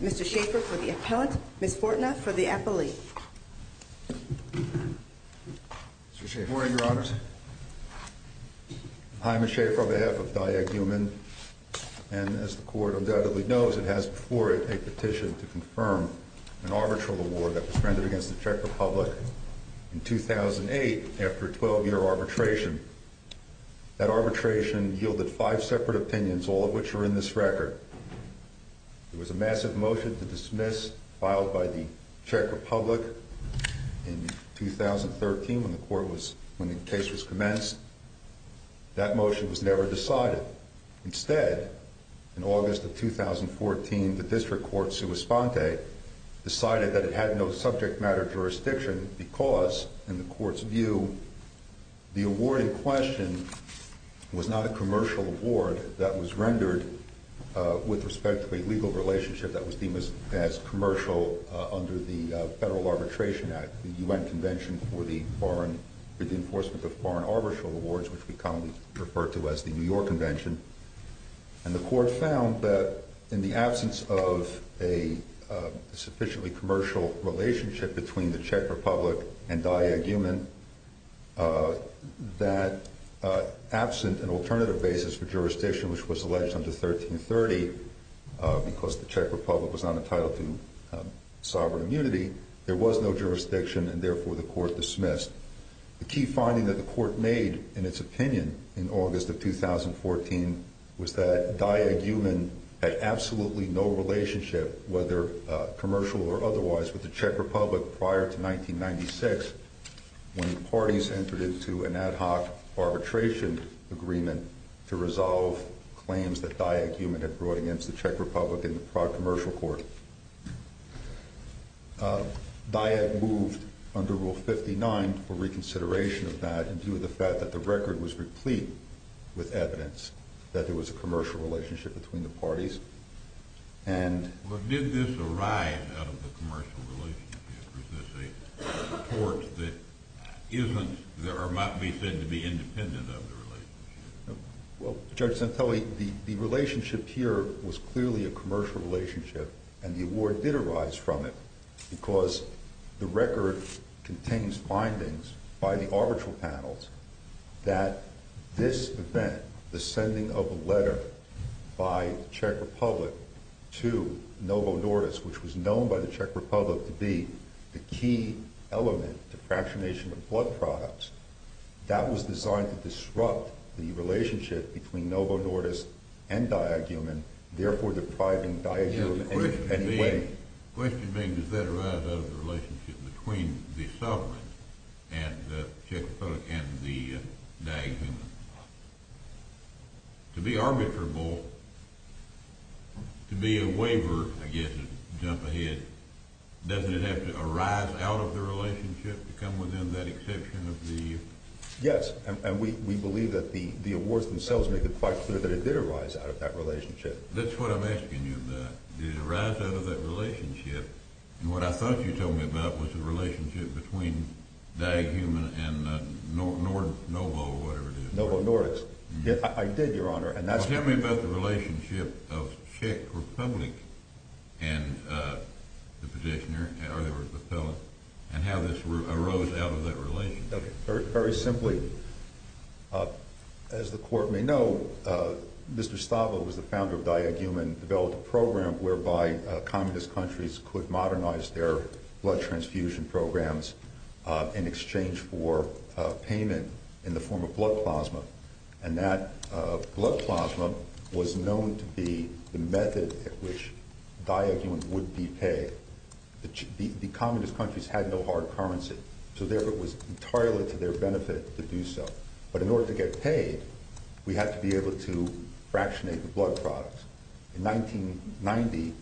Mr. Schaffer for the appellant, Ms. Fortna for the appellee. Good morning, Your Honors. I'm Mr. Schaffer on behalf of Diag Human, and as the Court undoubtedly knows, it has before it a petition to confirm an arbitral award that was rendered against the Czech Republic in 2008 after a 12-year arbitration. That arbitration yielded five separate opinions, all of which are in this record. There was a massive motion to dismiss filed by the Czech Republic in 2013 when the case was commenced. That motion was never decided. Instead, in August of 2014, the District Court, Suis Ponte, decided that it had no subject matter jurisdiction because, in the Court's view, the award in question was not a commercial award that was rendered with respect to a legal relationship that was deemed as commercial under the Federal Arbitration Act, the U.N. Convention for the Enforcement of Foreign Arbitral Awards, which we commonly refer to as the New York Convention. And the relationship between the Czech Republic and Diag Human, that absent an alternative basis for jurisdiction, which was alleged under 1330 because the Czech Republic was not entitled to sovereign immunity, there was no jurisdiction, and therefore the Court dismissed. The key finding that the Court made in its opinion in August of 2014 was that Diag Human had brought against the Czech Republic prior to 1996 when the parties entered into an ad hoc arbitration agreement to resolve claims that Diag Human had brought against the Czech Republic in the Prague Commercial Court. Diag moved under Rule 59 for reconsideration of that in view of the fact that the record was replete with evidence that there was a commercial relationship between the parties. Did this arise out of the commercial relationship? Or is this a report that might be said to be independent of the relationship? Well, Judge Santelli, the relationship here was clearly a commercial relationship and the award did arise from it because the record contains findings by the arbitral panels that this event, the sending of a letter by the Czech Republic to Novo Nordisk, which was known by the Czech Republic to be the key element to fractionation of blood products, that was designed to disrupt the relationship between Novo Nordisk and Diag Human, therefore depriving Diag Human in any way. Question being, does that arise out of the relationship between the sovereign and the Czech Republic and the Diag Human? To be arbitrable, to be a waiver, I guess, a jump ahead, doesn't it have to arise out of the relationship to come within that exception of the… Yes, and we believe that the awards themselves make it quite clear that it did arise out of that relationship. That's what I'm asking you about. Did it arise out of that relationship? And what I thought you told me about was the relationship between Diag Human and Novo Nordisk. Novo Nordisk. I did, Your Honor. Tell me about the relationship of Czech Republic and the petitioner, or the appellant, and how this arose out of that relationship. Very simply, as the Court may know, Mr. Stava, who was the founder of Diag Human, developed a program whereby communist countries could modernize their blood transfusion programs in exchange for payment in the form of blood plasma, and that blood plasma was known to be the method at which Diag Human would be paid. The communist countries had no hard currency, so therefore it was entirely to their benefit to do so. But in order to get paid, we had to be able to fractionate the blood products. In 1990,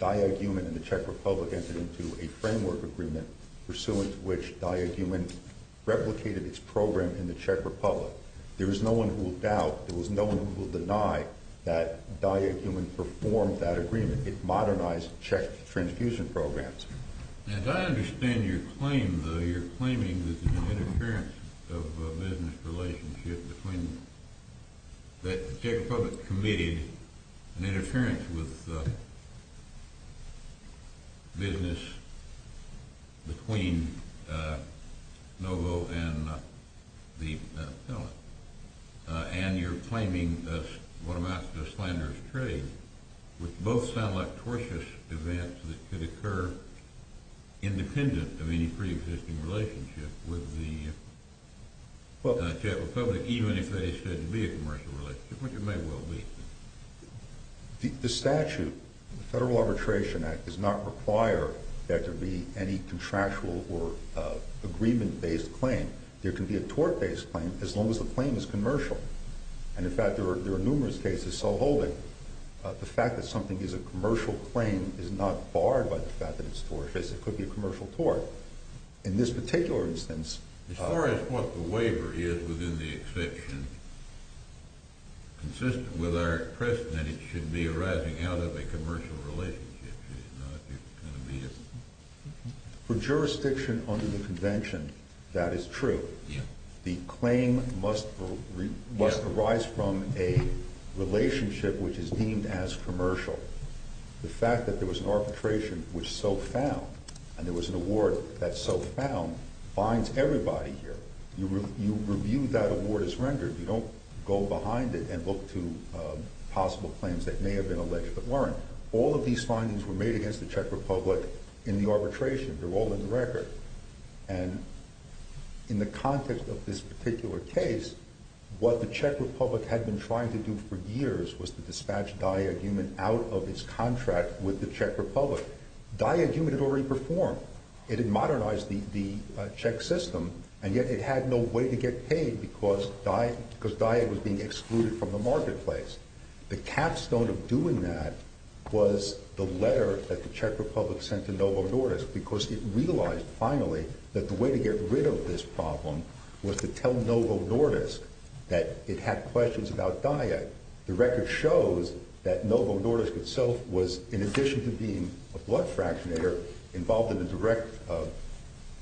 Diag Human and the Czech Republic entered into a framework agreement pursuant to which Diag Human replicated its program in the Czech Republic. There is no one who will doubt, there is no one who will deny that Diag Human performed that agreement. It modernized Czech transfusion programs. Now, as I understand your claim, though, you're claiming that there was an interference of a business relationship between, that the Czech Republic committed an interference with business between Novo and the appellant, and you're claiming that it was a matter of slanderous trade, which both sound like tortious events that could occur independent of any pre-existing relationship with the Czech Republic, even if they said to be a commercial relationship, which it may well be. The statute, the Federal Arbitration Act, does not require that there be any contractual or agreement-based claim. There can be a tort-based claim as long as the claim is commercial. And, in fact, there are numerous cases so holding the fact that something is a commercial claim is not barred by the fact that it's tortious. It could be a commercial tort. In this particular instance... As far as what the waiver is within the exception, consistent with our precedent, it should be arising out of a commercial relationship. For jurisdiction under the Convention, that is true. The claim must arise from a relationship which is deemed as commercial. The fact that there was an arbitration which so found, and there was an award that so found, binds everybody here. You review that award as rendered. You don't go behind it and look to possible claims that may have been alleged but weren't. All of these findings were made against the Czech Republic in the arbitration. They're all in the record. And, in the context of this particular case, what the Czech Republic had been trying to do for years was to dispatch DIAGUMEN out of its contract with the Czech Republic. DIAGUMEN had already performed. It had modernized the Czech system, and yet it had no way to get paid because DIAG was being excluded from the marketplace. The capstone of doing that was the letter that the Czech Republic sent to Novo Nordisk because it realized, finally, that the way to get rid of this problem was to tell Novo Nordisk that it had questions about DIAG. The record shows that Novo Nordisk itself was, in addition to being a blood fractionator, involved in a direct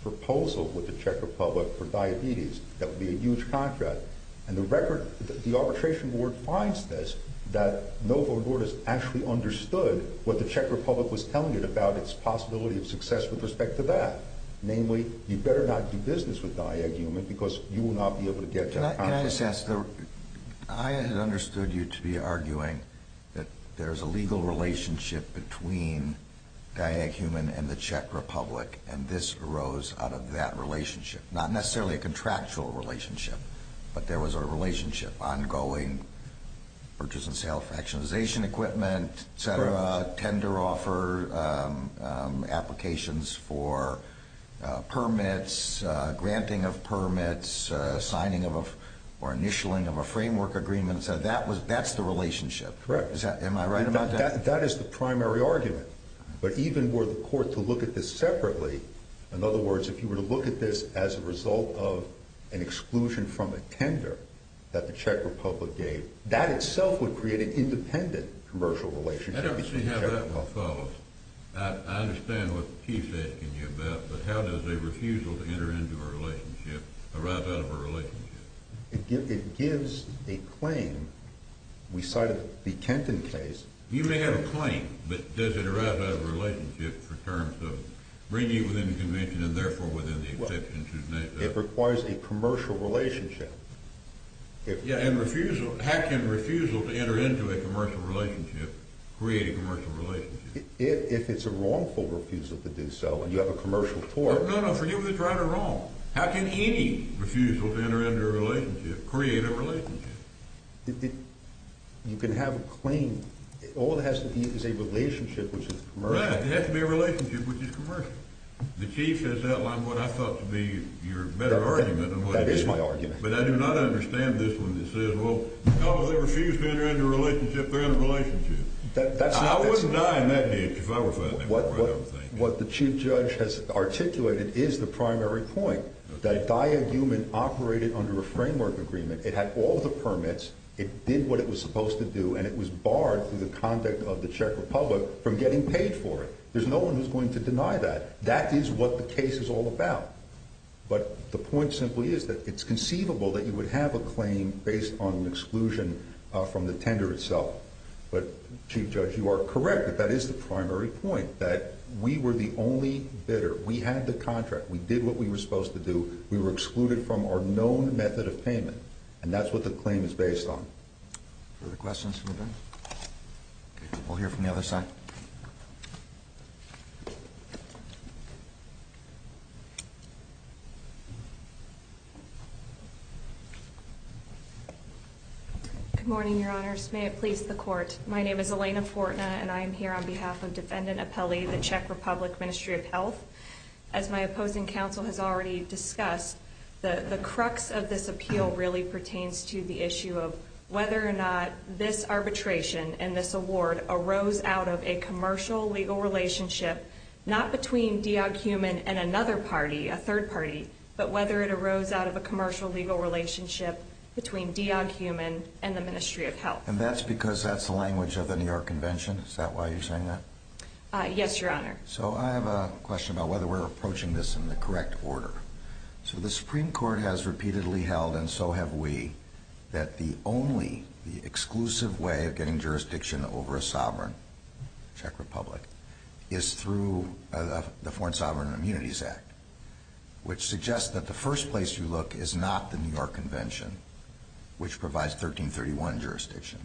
proposal with the Czech Republic for diabetes. That would be a huge contract. And the arbitration board finds this, that Novo Nordisk actually understood what the Czech Republic was telling it about its possibility of success with respect to that. Namely, you'd better not do business with DIAGUMEN because you will not be able to get that contract. Can I just ask? I understood you to be arguing that there's a legal relationship between DIAGUMEN and the Czech Republic, and this arose out of that relationship. Not necessarily a contractual relationship, but there was a relationship. Ongoing purchase and sale of fractionalization equipment, tender offer, applications for permits, granting of permits, signing or initialing of a framework agreement. That's the relationship. Am I right about that? That is the primary argument. But even were the court to look at this separately, in other words, if you were to look at this as a result of an exclusion from a tender that the Czech Republic gave, that itself would create an independent commercial relationship. I don't see how that would follow. I understand what the Chief is asking you about, but how does a refusal to enter into a relationship arrive out of a relationship? It gives a claim. We cited the Kenton case. You may have a claim, but does it arrive out of a relationship for terms of bringing it within the convention and therefore within the exception to deny that? It requires a commercial relationship. Yeah, and refusal. How can refusal to enter into a commercial relationship create a commercial relationship? If it's a wrongful refusal to do so and you have a commercial court... No, no. For you it's right or wrong. How can any refusal to enter into a relationship create a relationship? You can have a claim. All that has to be is a relationship which is commercial. Right. It has to be a relationship which is commercial. The Chief has outlined what I thought to be your better argument. That is my argument. But I do not understand this one that says, well, because they refused to enter into a relationship, they're in a relationship. I wouldn't die in that ditch if I were fighting it. What the Chief Judge has articulated is the primary point, that a diagumen operated under a framework agreement. It had all the permits, it did what it was supposed to do, and it was barred through the conduct of the Czech Republic from getting paid for it. There's no one who's going to deny that. That is what the case is all about. But the point simply is that it's conceivable that you would have a claim based on an exclusion from the tender itself. But, Chief Judge, you are correct that that is the primary point, that we were the only bidder. We had the contract. We did what we were supposed to do. We were excluded from our known method of payment. And that's what the claim is based on. Further questions from the bench? We'll hear from the other side. Good morning, Your Honors. May it please the Court. My name is Elena Fortna, and I am here on behalf of Defendant Apelli, the Czech Republic Ministry of Health. As my opposing counsel has already discussed, the crux of this appeal really pertains to the issue of whether or not this arbitration and this award arose out of a commercial legal relationship not between Diog-Humann and another party, a third party, but whether it arose out of a commercial legal relationship between Diog-Humann and the Ministry of Health. And that's because that's the language of the New York Convention? Is that why you're saying that? Yes, Your Honor. So I have a question about whether we're approaching this in the correct order. So the Supreme Court has repeatedly held, and so have we, that the only, the exclusive way of getting jurisdiction over a sovereign Czech Republic is through the Foreign Sovereign Immunities Act, which suggests that the first place you look is not the New York Convention, which provides 1331 jurisdiction,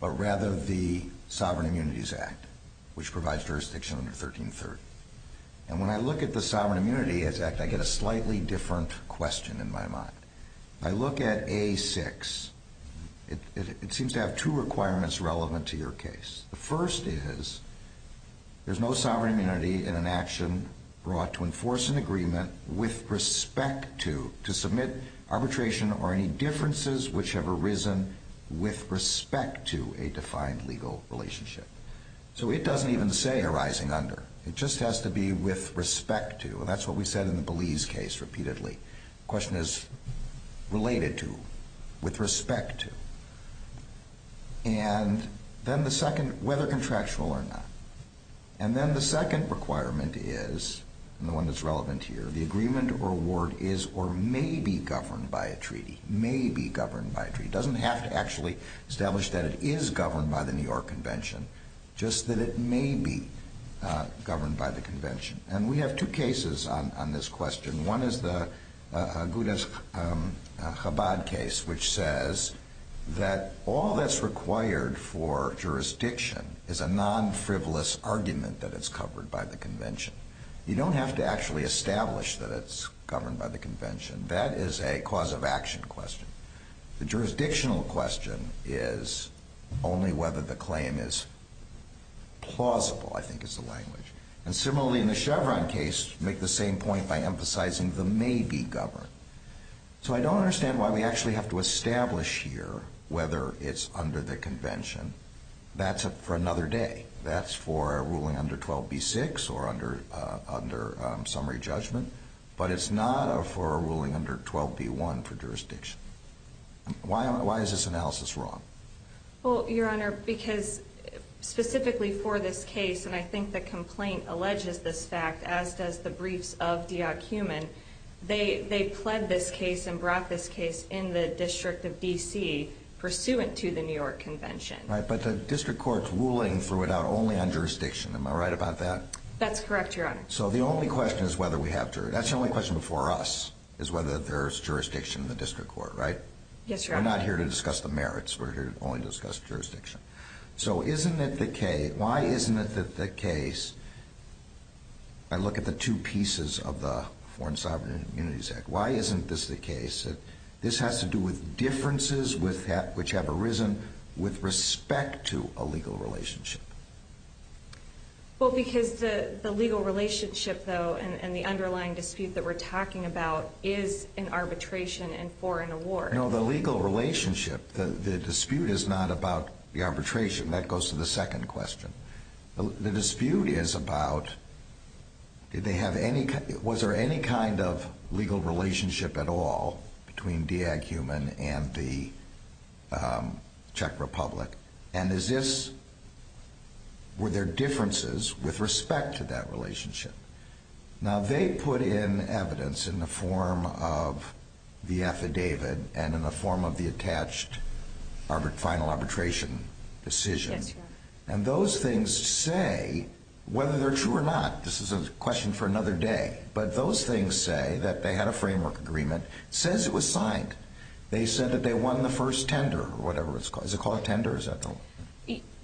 but rather the Sovereign Immunities Act, which provides jurisdiction under 1330. And when I look at the Sovereign Immunities Act, I get a slightly different question in my mind. I look at A6. It seems to have two requirements relevant to your case. The first is there's no sovereign immunity in an action brought to enforce an agreement with respect to, to submit arbitration or any differences which have arisen with respect to a defined legal relationship. So it doesn't even say arising under. It just has to be with respect to, and that's what we said in the Belize case repeatedly. The question is related to, with respect to. And then the second, whether contractual or not. And then the second requirement is, and the one that's relevant here, the agreement or award is or may be governed by a treaty, may be governed by a treaty. It doesn't have to actually establish that it is governed by the New York Convention, just that it may be governed by the Convention. And we have two cases on this question. One is the Goudes-Chabad case, which says that all that's required for jurisdiction is a non-frivolous argument that it's covered by the Convention. You don't have to actually establish that it's governed by the Convention. That is a cause of action question. The jurisdictional question is only whether the claim is plausible, I think is the language. And similarly in the Chevron case, make the same point by emphasizing the may be governed. So I don't understand why we actually have to establish here whether it's under the Convention. That's for another day. That's for a ruling under 12b-6 or under summary judgment. But it's not for a ruling under 12b-1 for jurisdiction. Why is this analysis wrong? Well, Your Honor, because specifically for this case, and I think the complaint alleges this fact, as does the briefs of Diak-Human, they pled this case and brought this case in the District of D.C. pursuant to the New York Convention. Right, but the District Court's ruling threw it out only on jurisdiction. Am I right about that? That's correct, Your Honor. So the only question is whether we have jurisdiction. That's the only question before us, is whether there's jurisdiction in the District Court, right? Yes, Your Honor. We're not here to discuss the merits. We're here to only discuss jurisdiction. So isn't it the case? Why isn't it the case? I look at the two pieces of the Foreign Sovereign Immunities Act. Why isn't this the case? This has to do with differences which have arisen with respect to a legal relationship. Well, because the legal relationship, though, and the underlying dispute that we're talking about is an arbitration and foreign award. No, the legal relationship, the dispute is not about the arbitration. That goes to the second question. The dispute is about did they have any, was there any kind of legal relationship at all between Dieg-Human and the Czech Republic? And is this, were there differences with respect to that relationship? Now, they put in evidence in the form of the affidavit and in the form of the attached final arbitration decision. Yes, Your Honor. And those things say, whether they're true or not, this is a question for another day, but those things say that they had a framework agreement. It says it was signed. They said that they won the first tender or whatever it's called. Is it called a tender?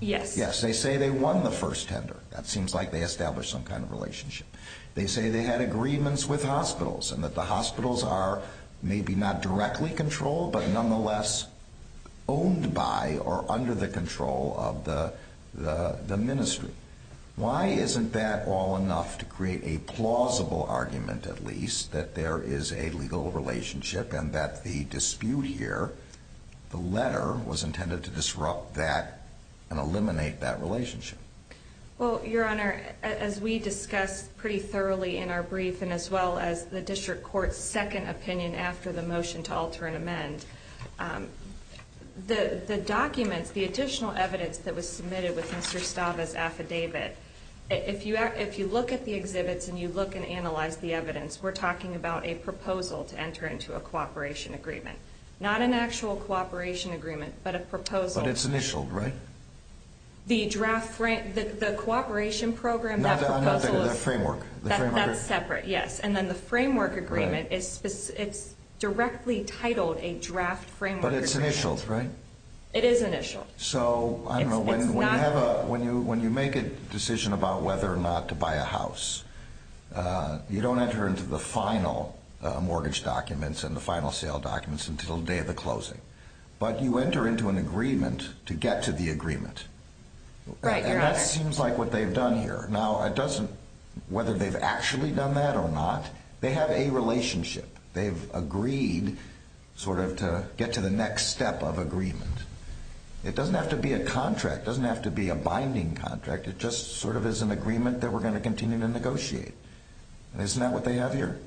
Yes. Yes, they say they won the first tender. That seems like they established some kind of relationship. They say they had agreements with hospitals and that the hospitals are maybe not directly controlled but nonetheless owned by or under the control of the ministry. Why isn't that all enough to create a plausible argument, at least, that there is a legal relationship and that the dispute here, the letter, was intended to disrupt that and eliminate that relationship? Well, Your Honor, as we discussed pretty thoroughly in our brief and as well as the district court's second opinion after the motion to alter and amend, the documents, the additional evidence that was submitted with Mr. Stava's affidavit, if you look at the exhibits and you look and analyze the evidence, we're talking about a proposal to enter into a cooperation agreement, not an actual cooperation agreement but a proposal. But it's initialed, right? The cooperation program, that proposal is separate, yes. And then the framework agreement, it's directly titled a draft framework agreement. But it's initialed, right? It is initialed. So, I don't know, when you make a decision about whether or not to buy a house, you don't enter into the final mortgage documents and the final sale documents until the day of the closing. But you enter into an agreement to get to the agreement. Right, Your Honor. And that seems like what they've done here. Now, it doesn't, whether they've actually done that or not, they have a relationship. They've agreed sort of to get to the next step of agreement. It doesn't have to be a contract. It doesn't have to be a binding contract. It just sort of is an agreement that we're going to continue to negotiate. Isn't that what they have here?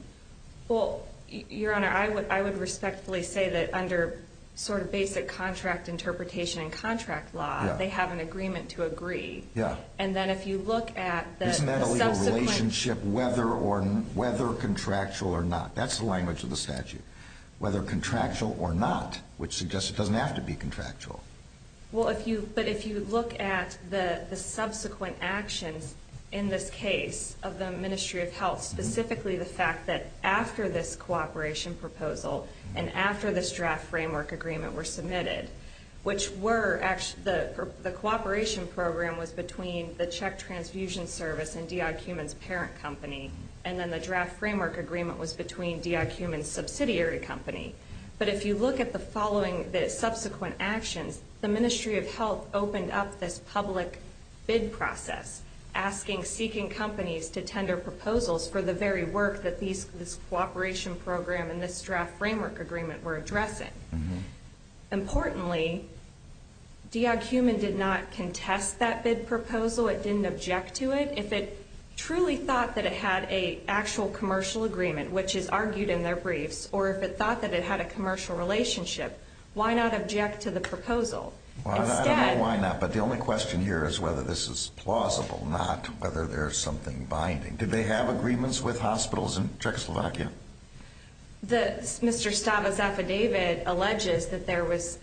Well, Your Honor, I would respectfully say that under sort of basic contract interpretation and contract law, they have an agreement to agree. And then if you look at the subsequent— Isn't that a legal relationship whether contractual or not? That's the language of the statute, whether contractual or not, which suggests it doesn't have to be contractual. Well, but if you look at the subsequent actions in this case of the Ministry of Health, specifically the fact that after this cooperation proposal and after this draft framework agreement were submitted, which were actually—the cooperation program was between the Czech Transfusion Service and Diak-Humann's parent company, and then the draft framework agreement was between Diak-Humann's subsidiary company. But if you look at the following, the subsequent actions, the Ministry of Health opened up this public bid process, asking—seeking companies to tender proposals for the very work that this cooperation program and this draft framework agreement were addressing. Importantly, Diak-Humann did not contest that bid proposal. It didn't object to it. If it truly thought that it had an actual commercial agreement, which is argued in their briefs, or if it thought that it had a commercial relationship, why not object to the proposal? Well, I don't know why not, but the only question here is whether this is plausible, not whether there's something binding. Did they have agreements with hospitals in Czechoslovakia? Mr. Stava's affidavit alleges that there was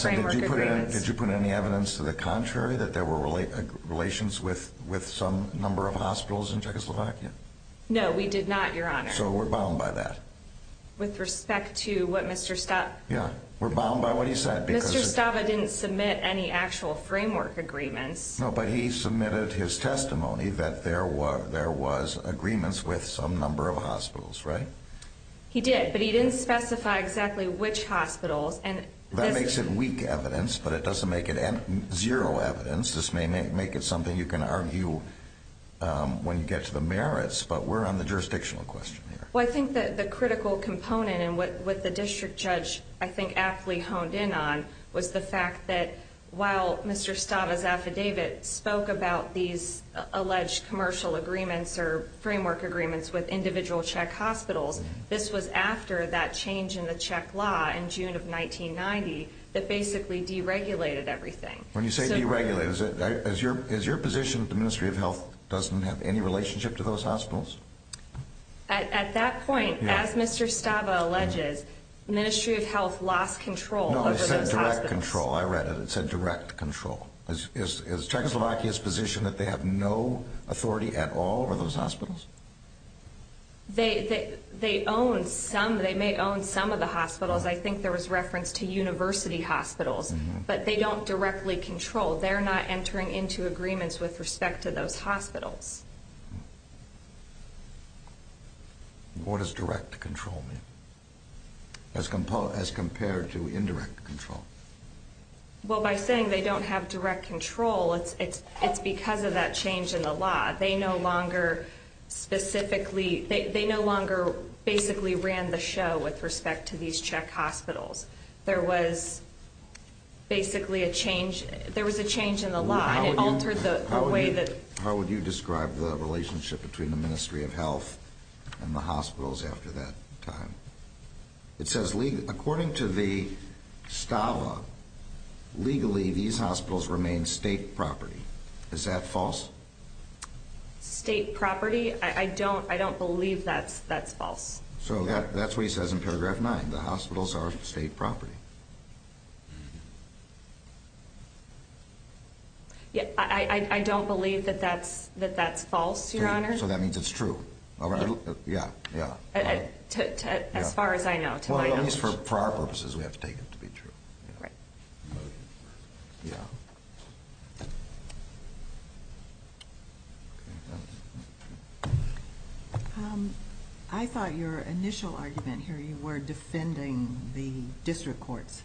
framework agreements. Did you put any evidence to the contrary, that there were relations with some number of hospitals in Czechoslovakia? No, we did not, Your Honor. So we're bound by that. With respect to what Mr. Stava— Yeah, we're bound by what he said. Mr. Stava didn't submit any actual framework agreements. No, but he submitted his testimony that there was agreements with some number of hospitals, right? He did, but he didn't specify exactly which hospitals. That makes it weak evidence, but it doesn't make it zero evidence. This may make it something you can argue when you get to the merits, but we're on the jurisdictional question here. Well, I think that the critical component and what the district judge I think aptly honed in on was the fact that while Mr. Stava's affidavit spoke about these alleged commercial agreements or framework agreements with individual Czech hospitals, this was after that change in the Czech law in June of 1990 that basically deregulated everything. When you say deregulated, is your position that the Ministry of Health doesn't have any relationship to those hospitals? At that point, as Mr. Stava alleges, Ministry of Health lost control over those hospitals. No, it said direct control. I read it. It said direct control. Is Czechoslovakia's position that they have no authority at all over those hospitals? They own some—they may own some of the hospitals. I think there was reference to university hospitals, but they don't directly control. They're not entering into agreements with respect to those hospitals. What does direct control mean as compared to indirect control? Well, by saying they don't have direct control, it's because of that change in the law. They no longer specifically—they no longer basically ran the show with respect to these Czech hospitals. There was basically a change—there was a change in the law, and it altered the way that— How would you describe the relationship between the Ministry of Health and the hospitals after that time? It says, according to the Stava, legally these hospitals remain state property. Is that false? State property? I don't believe that's false. So that's what he says in paragraph 9, the hospitals are state property. I don't believe that that's false, Your Honor. So that means it's true. As far as I know, to my knowledge. Well, at least for our purposes, we have to take it to be true. Right. Yeah. I thought your initial argument here, you were defending the district court's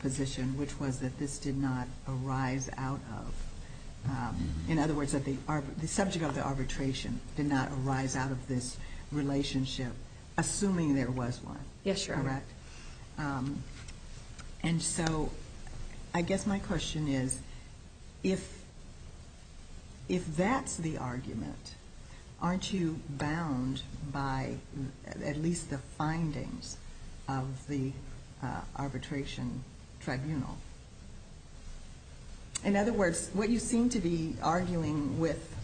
position, which was that this did not arise out of— in other words, that the subject of the arbitration did not arise out of this relationship, assuming there was one. Yes, Your Honor. Correct. And so I guess my question is, if that's the argument, aren't you bound by at least the findings of the arbitration tribunal? In other words, what you seem to be arguing with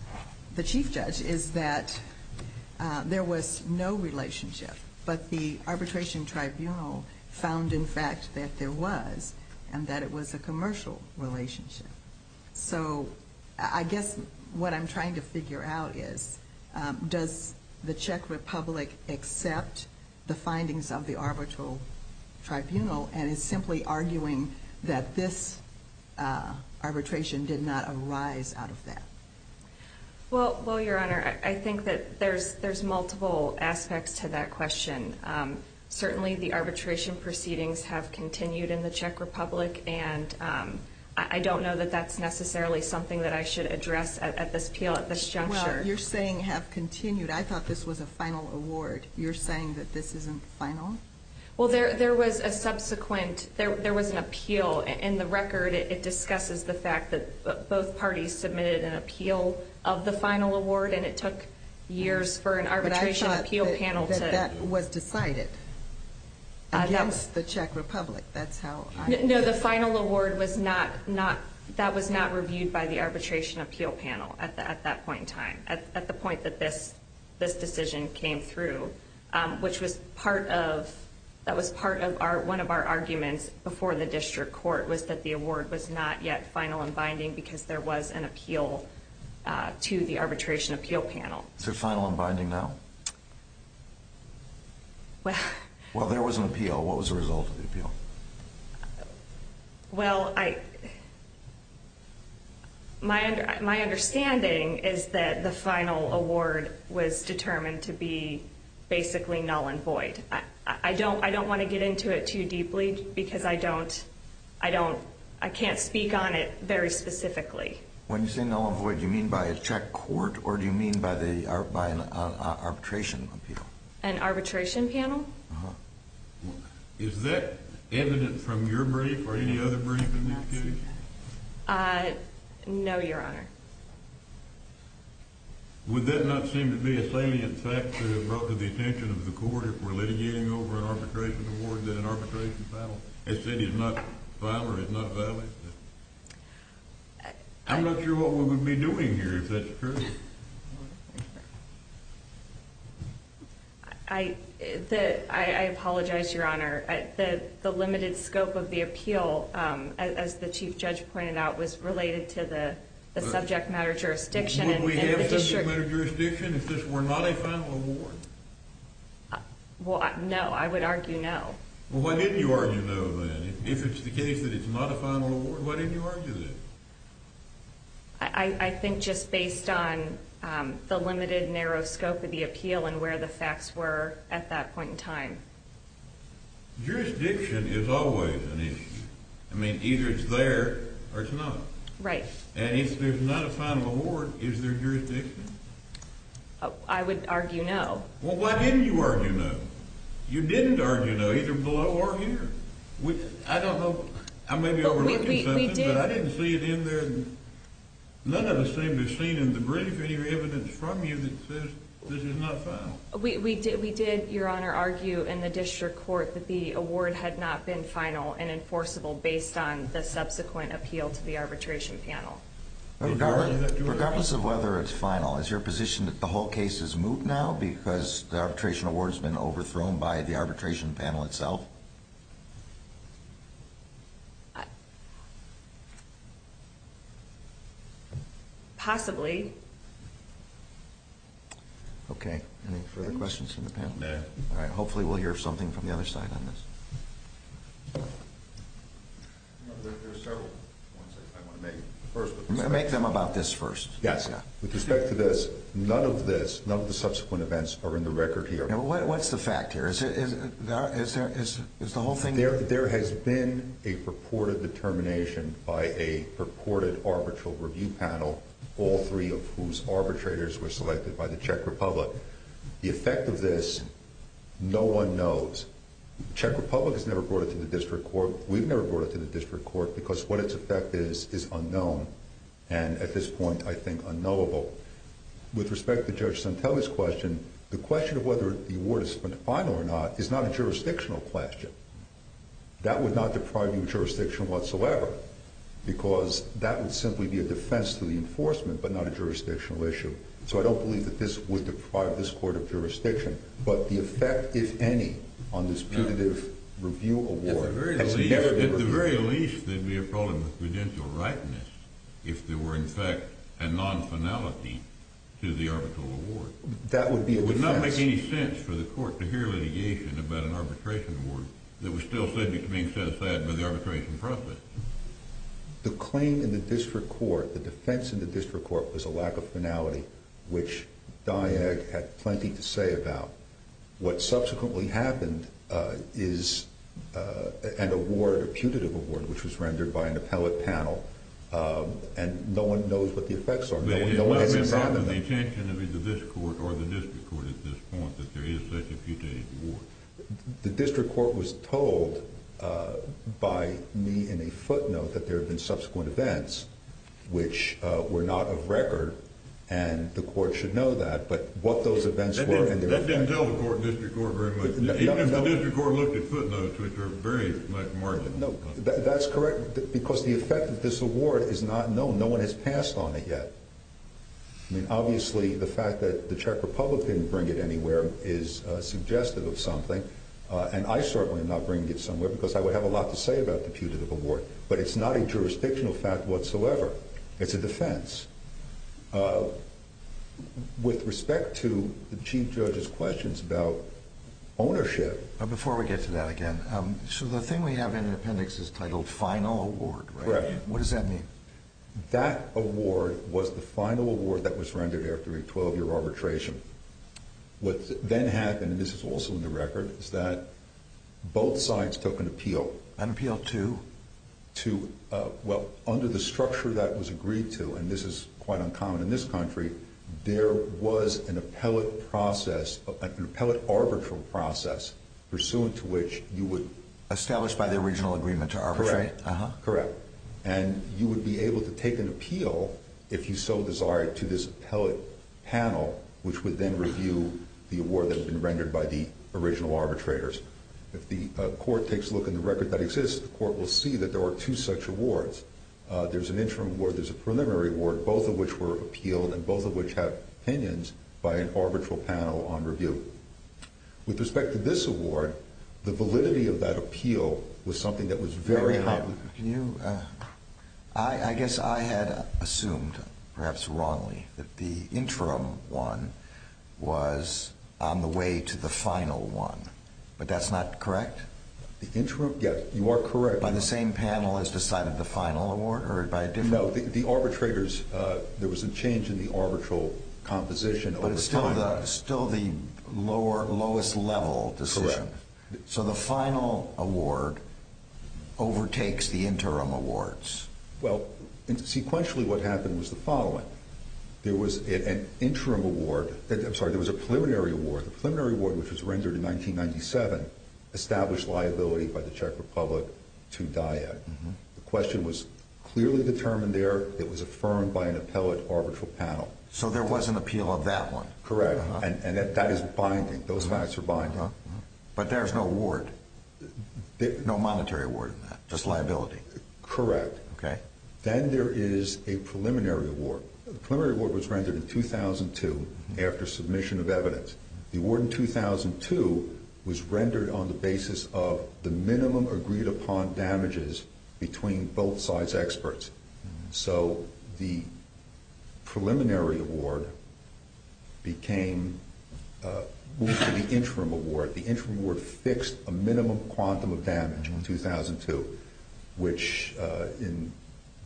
the Chief Judge is that there was no relationship, but the arbitration tribunal found, in fact, that there was, and that it was a commercial relationship. So I guess what I'm trying to figure out is, does the Czech Republic accept the findings of the arbitral tribunal and is simply arguing that this arbitration did not arise out of that? Well, Your Honor, I think that there's multiple aspects to that question. Certainly the arbitration proceedings have continued in the Czech Republic, and I don't know that that's necessarily something that I should address at this juncture. Well, you're saying have continued. I thought this was a final award. You're saying that this isn't final? Well, there was a subsequent, there was an appeal. In the record, it discusses the fact that both parties submitted an appeal of the final award, and it took years for an arbitration appeal panel to- But I thought that that was decided against the Czech Republic. That's how I- No, the final award was not, that was not reviewed by the arbitration appeal panel at that point in time, at the point that this decision came through, which was part of, that was part of one of our arguments before the district court was that the award was not yet final and binding because there was an appeal to the arbitration appeal panel. Is it final and binding now? Well- Well, there was an appeal. What was the result of the appeal? Well, I, my understanding is that the final award was determined to be basically null and void. I don't want to get into it too deeply because I don't, I don't, I can't speak on it very specifically. When you say null and void, do you mean by a Czech court, or do you mean by an arbitration appeal? An arbitration panel? Uh-huh. Is that evident from your brief or any other brief in this case? No, Your Honor. Would that not seem to be a salient fact to have brought to the attention of the court if we're litigating over an arbitration award that an arbitration panel has said is not valid? I'm not sure what we would be doing here if that's true. I apologize, Your Honor. The limited scope of the appeal, as the Chief Judge pointed out, was related to the subject matter jurisdiction. Would we have a subject matter jurisdiction if this were not a final award? Well, no. I would argue no. Well, why didn't you argue no, then? If it's the case that it's not a final award, why didn't you argue that? I think just based on the limited narrow scope of the appeal and where the facts were at that point in time. Jurisdiction is always an issue. I mean, either it's there or it's not. Right. And if there's not a final award, is there jurisdiction? I would argue no. Well, why didn't you argue no? You didn't argue no either below or here. I don't know. I may be overlooking something, but I didn't see it in there. None of us seem to have seen in the brief any evidence from you that says this is not final. We did, Your Honor, argue in the district court that the award had not been final and enforceable based on the subsequent appeal to the arbitration panel. Regardless of whether it's final, is your position that the whole case is moot now because the arbitration award has been overthrown by the arbitration panel itself? Possibly. Okay. Any further questions from the panel? No. All right. Hopefully we'll hear something from the other side on this. There are several points I want to make first. Make them about this first. Yes. With respect to this, none of this, none of the subsequent events are in the record here. What's the fact here? There has been a purported determination by a purported arbitral review panel, all three of whose arbitrators were selected by the Czech Republic. The effect of this, no one knows. The Czech Republic has never brought it to the district court. We've never brought it to the district court because what its effect is is unknown and, at this point, I think unknowable. With respect to Judge Santelli's question, the question of whether the award is final or not is not a jurisdictional question. That would not deprive you of jurisdiction whatsoever because that would simply be a defense to the enforcement but not a jurisdictional issue. So I don't believe that this would deprive this court of jurisdiction. But the effect, if any, on this putative review award has never been reviewed. At the very least, there would be a problem with prudential rightness if there were, in fact, a non-finality to the arbitral award. That would be a defense. It would not make any sense for the court to hear litigation about an arbitration award that was still subject to being set aside by the arbitration process. The claim in the district court, the defense in the district court, was a lack of finality, which Dyag had plenty to say about. What subsequently happened is an award, a putative award, which was rendered by an appellate panel, and no one knows what the effects are. No one has examined it. It wasn't the intention of either this court or the district court at this point that there is such a putative award. The district court was told by me in a footnote that there had been subsequent events which were not of record, and the court should know that. That didn't tell the district court very much. The district court looked at footnotes, which are very much marginal. That's correct, because the effect of this award is not known. No one has passed on it yet. Obviously, the fact that the Czech Republic didn't bring it anywhere is suggestive of something, and I certainly am not bringing it somewhere because I would have a lot to say about the putative award. But it's not a jurisdictional fact whatsoever. It's a defense. With respect to the Chief Judge's questions about ownership… Before we get to that again, so the thing we have in the appendix is titled final award, right? Correct. What does that mean? That award was the final award that was rendered after a 12-year arbitration. What then happened, and this is also in the record, is that both sides took an appeal. An appeal to? Well, under the structure that was agreed to, and this is quite uncommon in this country, there was an appellate arbitral process pursuant to which you would… Established by the original agreement to arbitrate. Correct. And you would be able to take an appeal, if you so desired, to this appellate panel, which would then review the award that had been rendered by the original arbitrators. If the court takes a look in the record that exists, the court will see that there are two such awards. There's an interim award. There's a preliminary award, both of which were appealed and both of which have opinions by an arbitral panel on review. With respect to this award, the validity of that appeal was something that was very… I guess I had assumed, perhaps wrongly, that the interim one was on the way to the final one, but that's not correct? The interim? Yes, you are correct. By the same panel as decided the final award or by a different… No, the arbitrators, there was a change in the arbitral composition over time. Correct. So the final award overtakes the interim awards? Well, sequentially what happened was the following. There was an interim award… I'm sorry, there was a preliminary award. The preliminary award, which was rendered in 1997, established liability by the Czech Republic to Dyett. The question was clearly determined there. It was affirmed by an appellate arbitral panel. So there was an appeal of that one? Correct, and that is binding. Those facts are binding. But there is no award, no monetary award in that, just liability? Correct. Okay. Then there is a preliminary award. The preliminary award was rendered in 2002 after submission of evidence. The award in 2002 was rendered on the basis of the minimum agreed upon damages between both sides' experts. So the preliminary award moved to the interim award. The interim award fixed a minimum quantum of damage in 2002, which in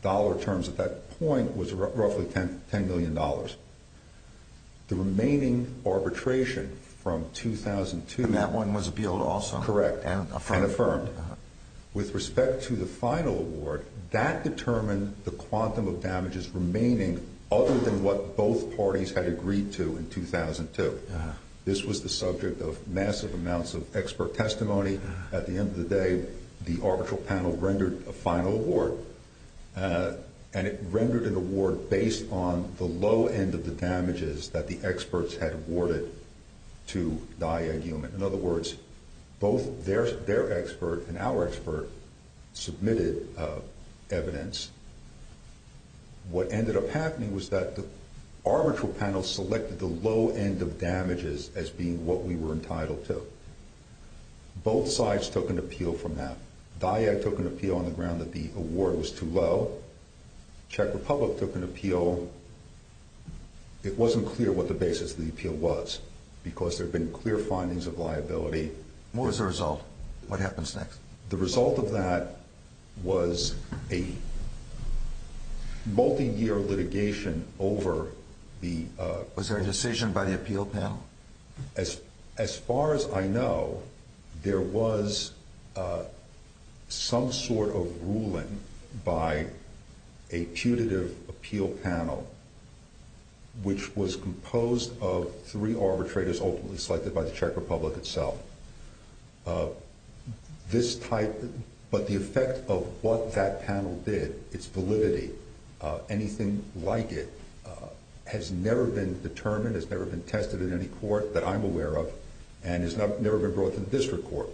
dollar terms at that point was roughly $10 million. The remaining arbitration from 2002… And that one was appealed also? Correct, and affirmed. With respect to the final award, that determined the quantum of damages remaining other than what both parties had agreed to in 2002. This was the subject of massive amounts of expert testimony. At the end of the day, the arbitral panel rendered a final award, and it rendered an award based on the low end of the damages that the experts had awarded to Dyett-Juhmann. In other words, both their expert and our expert submitted evidence. What ended up happening was that the arbitral panel selected the low end of damages as being what we were entitled to. Both sides took an appeal from that. Dyett took an appeal on the ground that the award was too low. The Czech Republic took an appeal. It wasn't clear what the basis of the appeal was, because there had been clear findings of liability. What was the result? What happens next? The result of that was a multi-year litigation over the… Was there a decision by the appeal panel? As far as I know, there was some sort of ruling by a putative appeal panel, which was composed of three arbitrators ultimately selected by the Czech Republic itself. But the effect of what that panel did, its validity, anything like it, has never been determined, has never been tested in any court that I'm aware of, and has never been brought to the district court.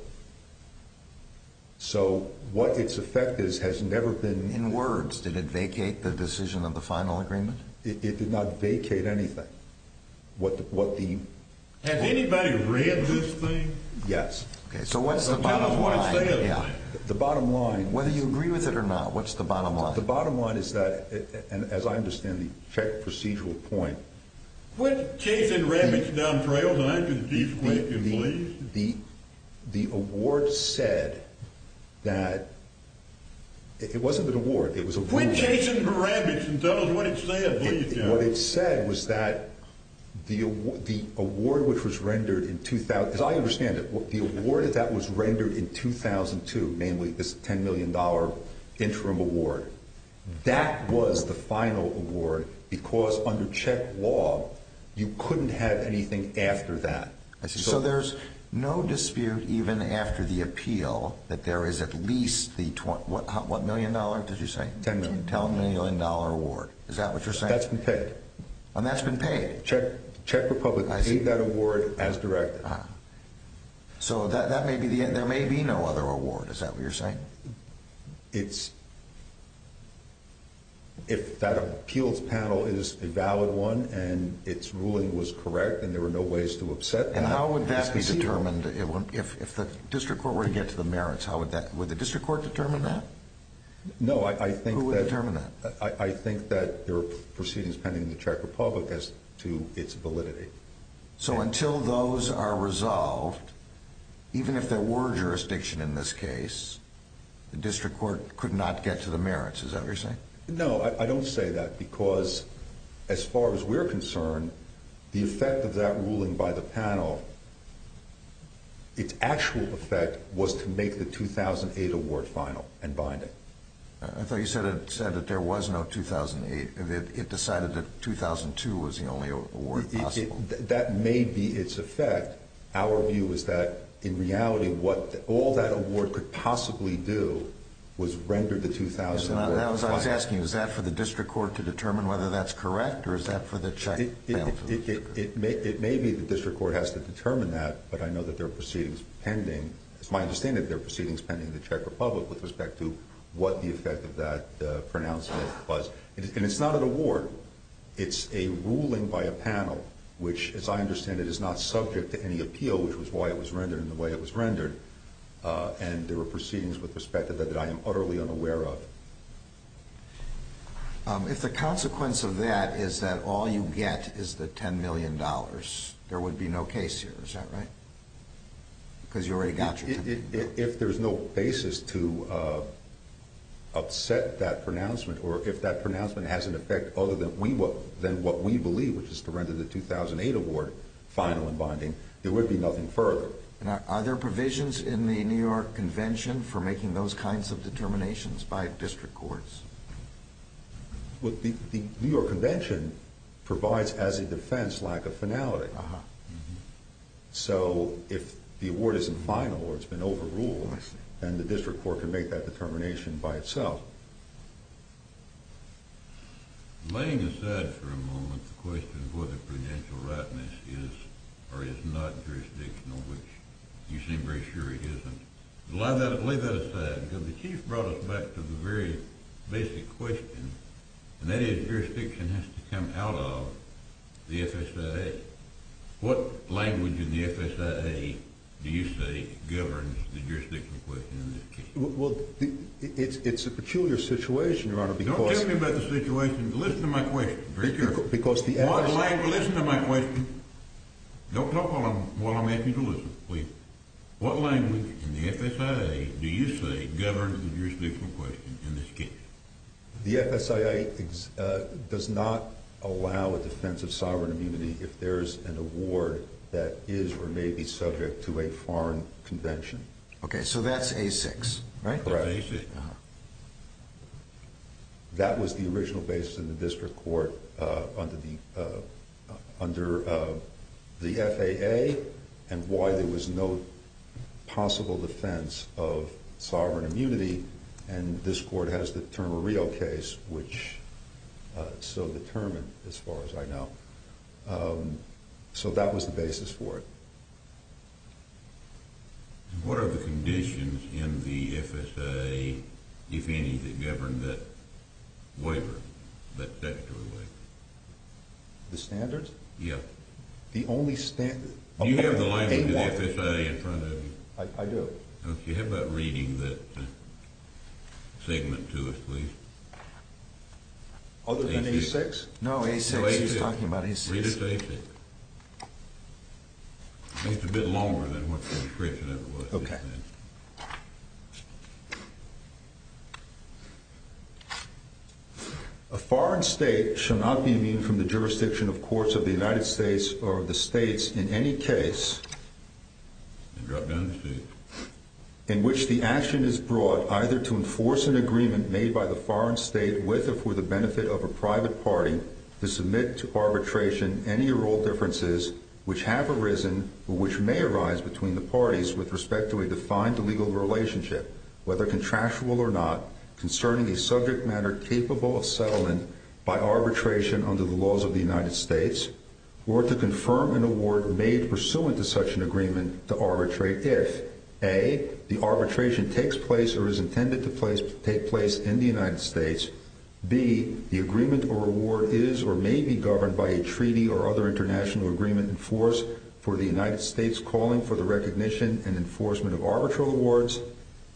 So what its effect is has never been… In words, did it vacate the decision of the final agreement? It did not vacate anything. Has anybody read this thing? Yes. So what's the bottom line? The bottom line… Whether you agree with it or not, what's the bottom line? The bottom line is that, as I understand the Czech procedural point… Quit chasing rabbits down trails and I can be quick and pleased. The award said that… It wasn't an award. Quit chasing rabbits and tell us what it said, please. What it said was that the award which was rendered in 2000… As I understand it, the award that was rendered in 2002, namely this $10 million interim award, that was the final award because under Czech law you couldn't have anything after that. So there's no dispute even after the appeal that there is at least the… What million dollar did you say? $10 million. $10 million award. Is that what you're saying? That's been paid. And that's been paid? Czech Republic paid that award as directed. So that may be the end. There may be no other award. Is that what you're saying? It's… If that appeals panel is a valid one and its ruling was correct and there were no ways to upset that… And how would that be determined? If the district court were to get to the merits, how would that… Would the district court determine that? No, I think that… Who would determine that? I think that there are proceedings pending in the Czech Republic as to its validity. So until those are resolved, even if there were jurisdiction in this case, the district court could not get to the merits. Is that what you're saying? No, I don't say that because as far as we're concerned, the effect of that ruling by the panel, its actual effect was to make the 2008 award final and bind it. I thought you said that there was no 2008. It decided that 2002 was the only award possible. That may be its effect. Our view is that, in reality, what all that award could possibly do was render the 2001 final. That's what I was asking. Is that for the district court to determine whether that's correct or is that for the Czech panel to… It may be the district court has to determine that, but I know that there are proceedings pending. It's my understanding that there are proceedings pending in the Czech Republic with respect to what the effect of that pronouncement was. And it's not an award. It's a ruling by a panel, which, as I understand it, is not subject to any appeal, which was why it was rendered in the way it was rendered, and there were proceedings with respect to that that I am utterly unaware of. If the consequence of that is that all you get is the $10 million, there would be no case here. Is that right? Because you already got your $10 million. If there's no basis to upset that pronouncement or if that pronouncement has an effect other than what we believe, which is to render the 2008 award final and binding, there would be nothing further. Are there provisions in the New York Convention for making those kinds of determinations by district courts? The New York Convention provides as a defense lack of finality. So if the award isn't final or it's been overruled, then the district court can make that determination by itself. Laying aside for a moment the question of whether prudential rightness is or is not jurisdictional, which you seem very sure it isn't, lay that aside because the Chief brought us back to the very basic question, and that is jurisdiction has to come out of the FSIA. What language in the FSIA do you say governs the jurisdictional question in this case? Well, it's a peculiar situation, Your Honor, because— Don't tell me about the situation. Listen to my question very carefully. Because the FSIA— What language—listen to my question. Don't talk while I'm asking you to listen, please. What language in the FSIA do you say governs the jurisdictional question in this case? The FSIA does not allow a defense of sovereign immunity if there is an award that is or may be subject to a foreign convention. Okay, so that's A6, right? Correct. That was the original basis in the district court under the FAA and why there was no possible defense of sovereign immunity, and this court has the Termarillo case, which is so determined as far as I know. So that was the basis for it. What are the conditions in the FSIA, if any, that govern that waiver, that statutory waiver? The standards? Yes. The only standard— Do you have the language of the FSIA in front of you? I do. Okay, how about reading that segment to us, please? Other than A6? No, A6. He's talking about A6. Read us A6. It's a bit longer than what the description of it was. Okay. A foreign state shall not be immune from the jurisdiction of courts of the United States or of the states in any case— in which the action is brought either to enforce an agreement made by the foreign state with or for the benefit of a private party to submit to arbitration any or all differences which have arisen or which may arise between the parties with respect to a defined legal relationship, whether contractual or not, concerning a subject matter capable of settlement by arbitration under the laws of the United States, or to confirm an award made pursuant to such an agreement to arbitrate if a. the arbitration takes place or is intended to take place in the United States, b. the agreement or award is or may be governed by a treaty or other international agreement in force for the United States calling for the recognition and enforcement of arbitral awards,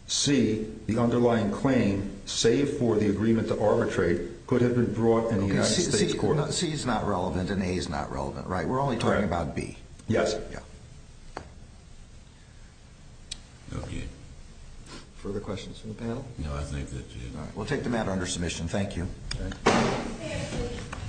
c. the underlying claim, save for the agreement to arbitrate, could have been brought in the United States court. C is not relevant and A is not relevant, right? We're only talking about B. Yes, sir. Yeah. Okay. Further questions from the panel? No, I think that's it. All right. We'll take the matter under submission. Thank you.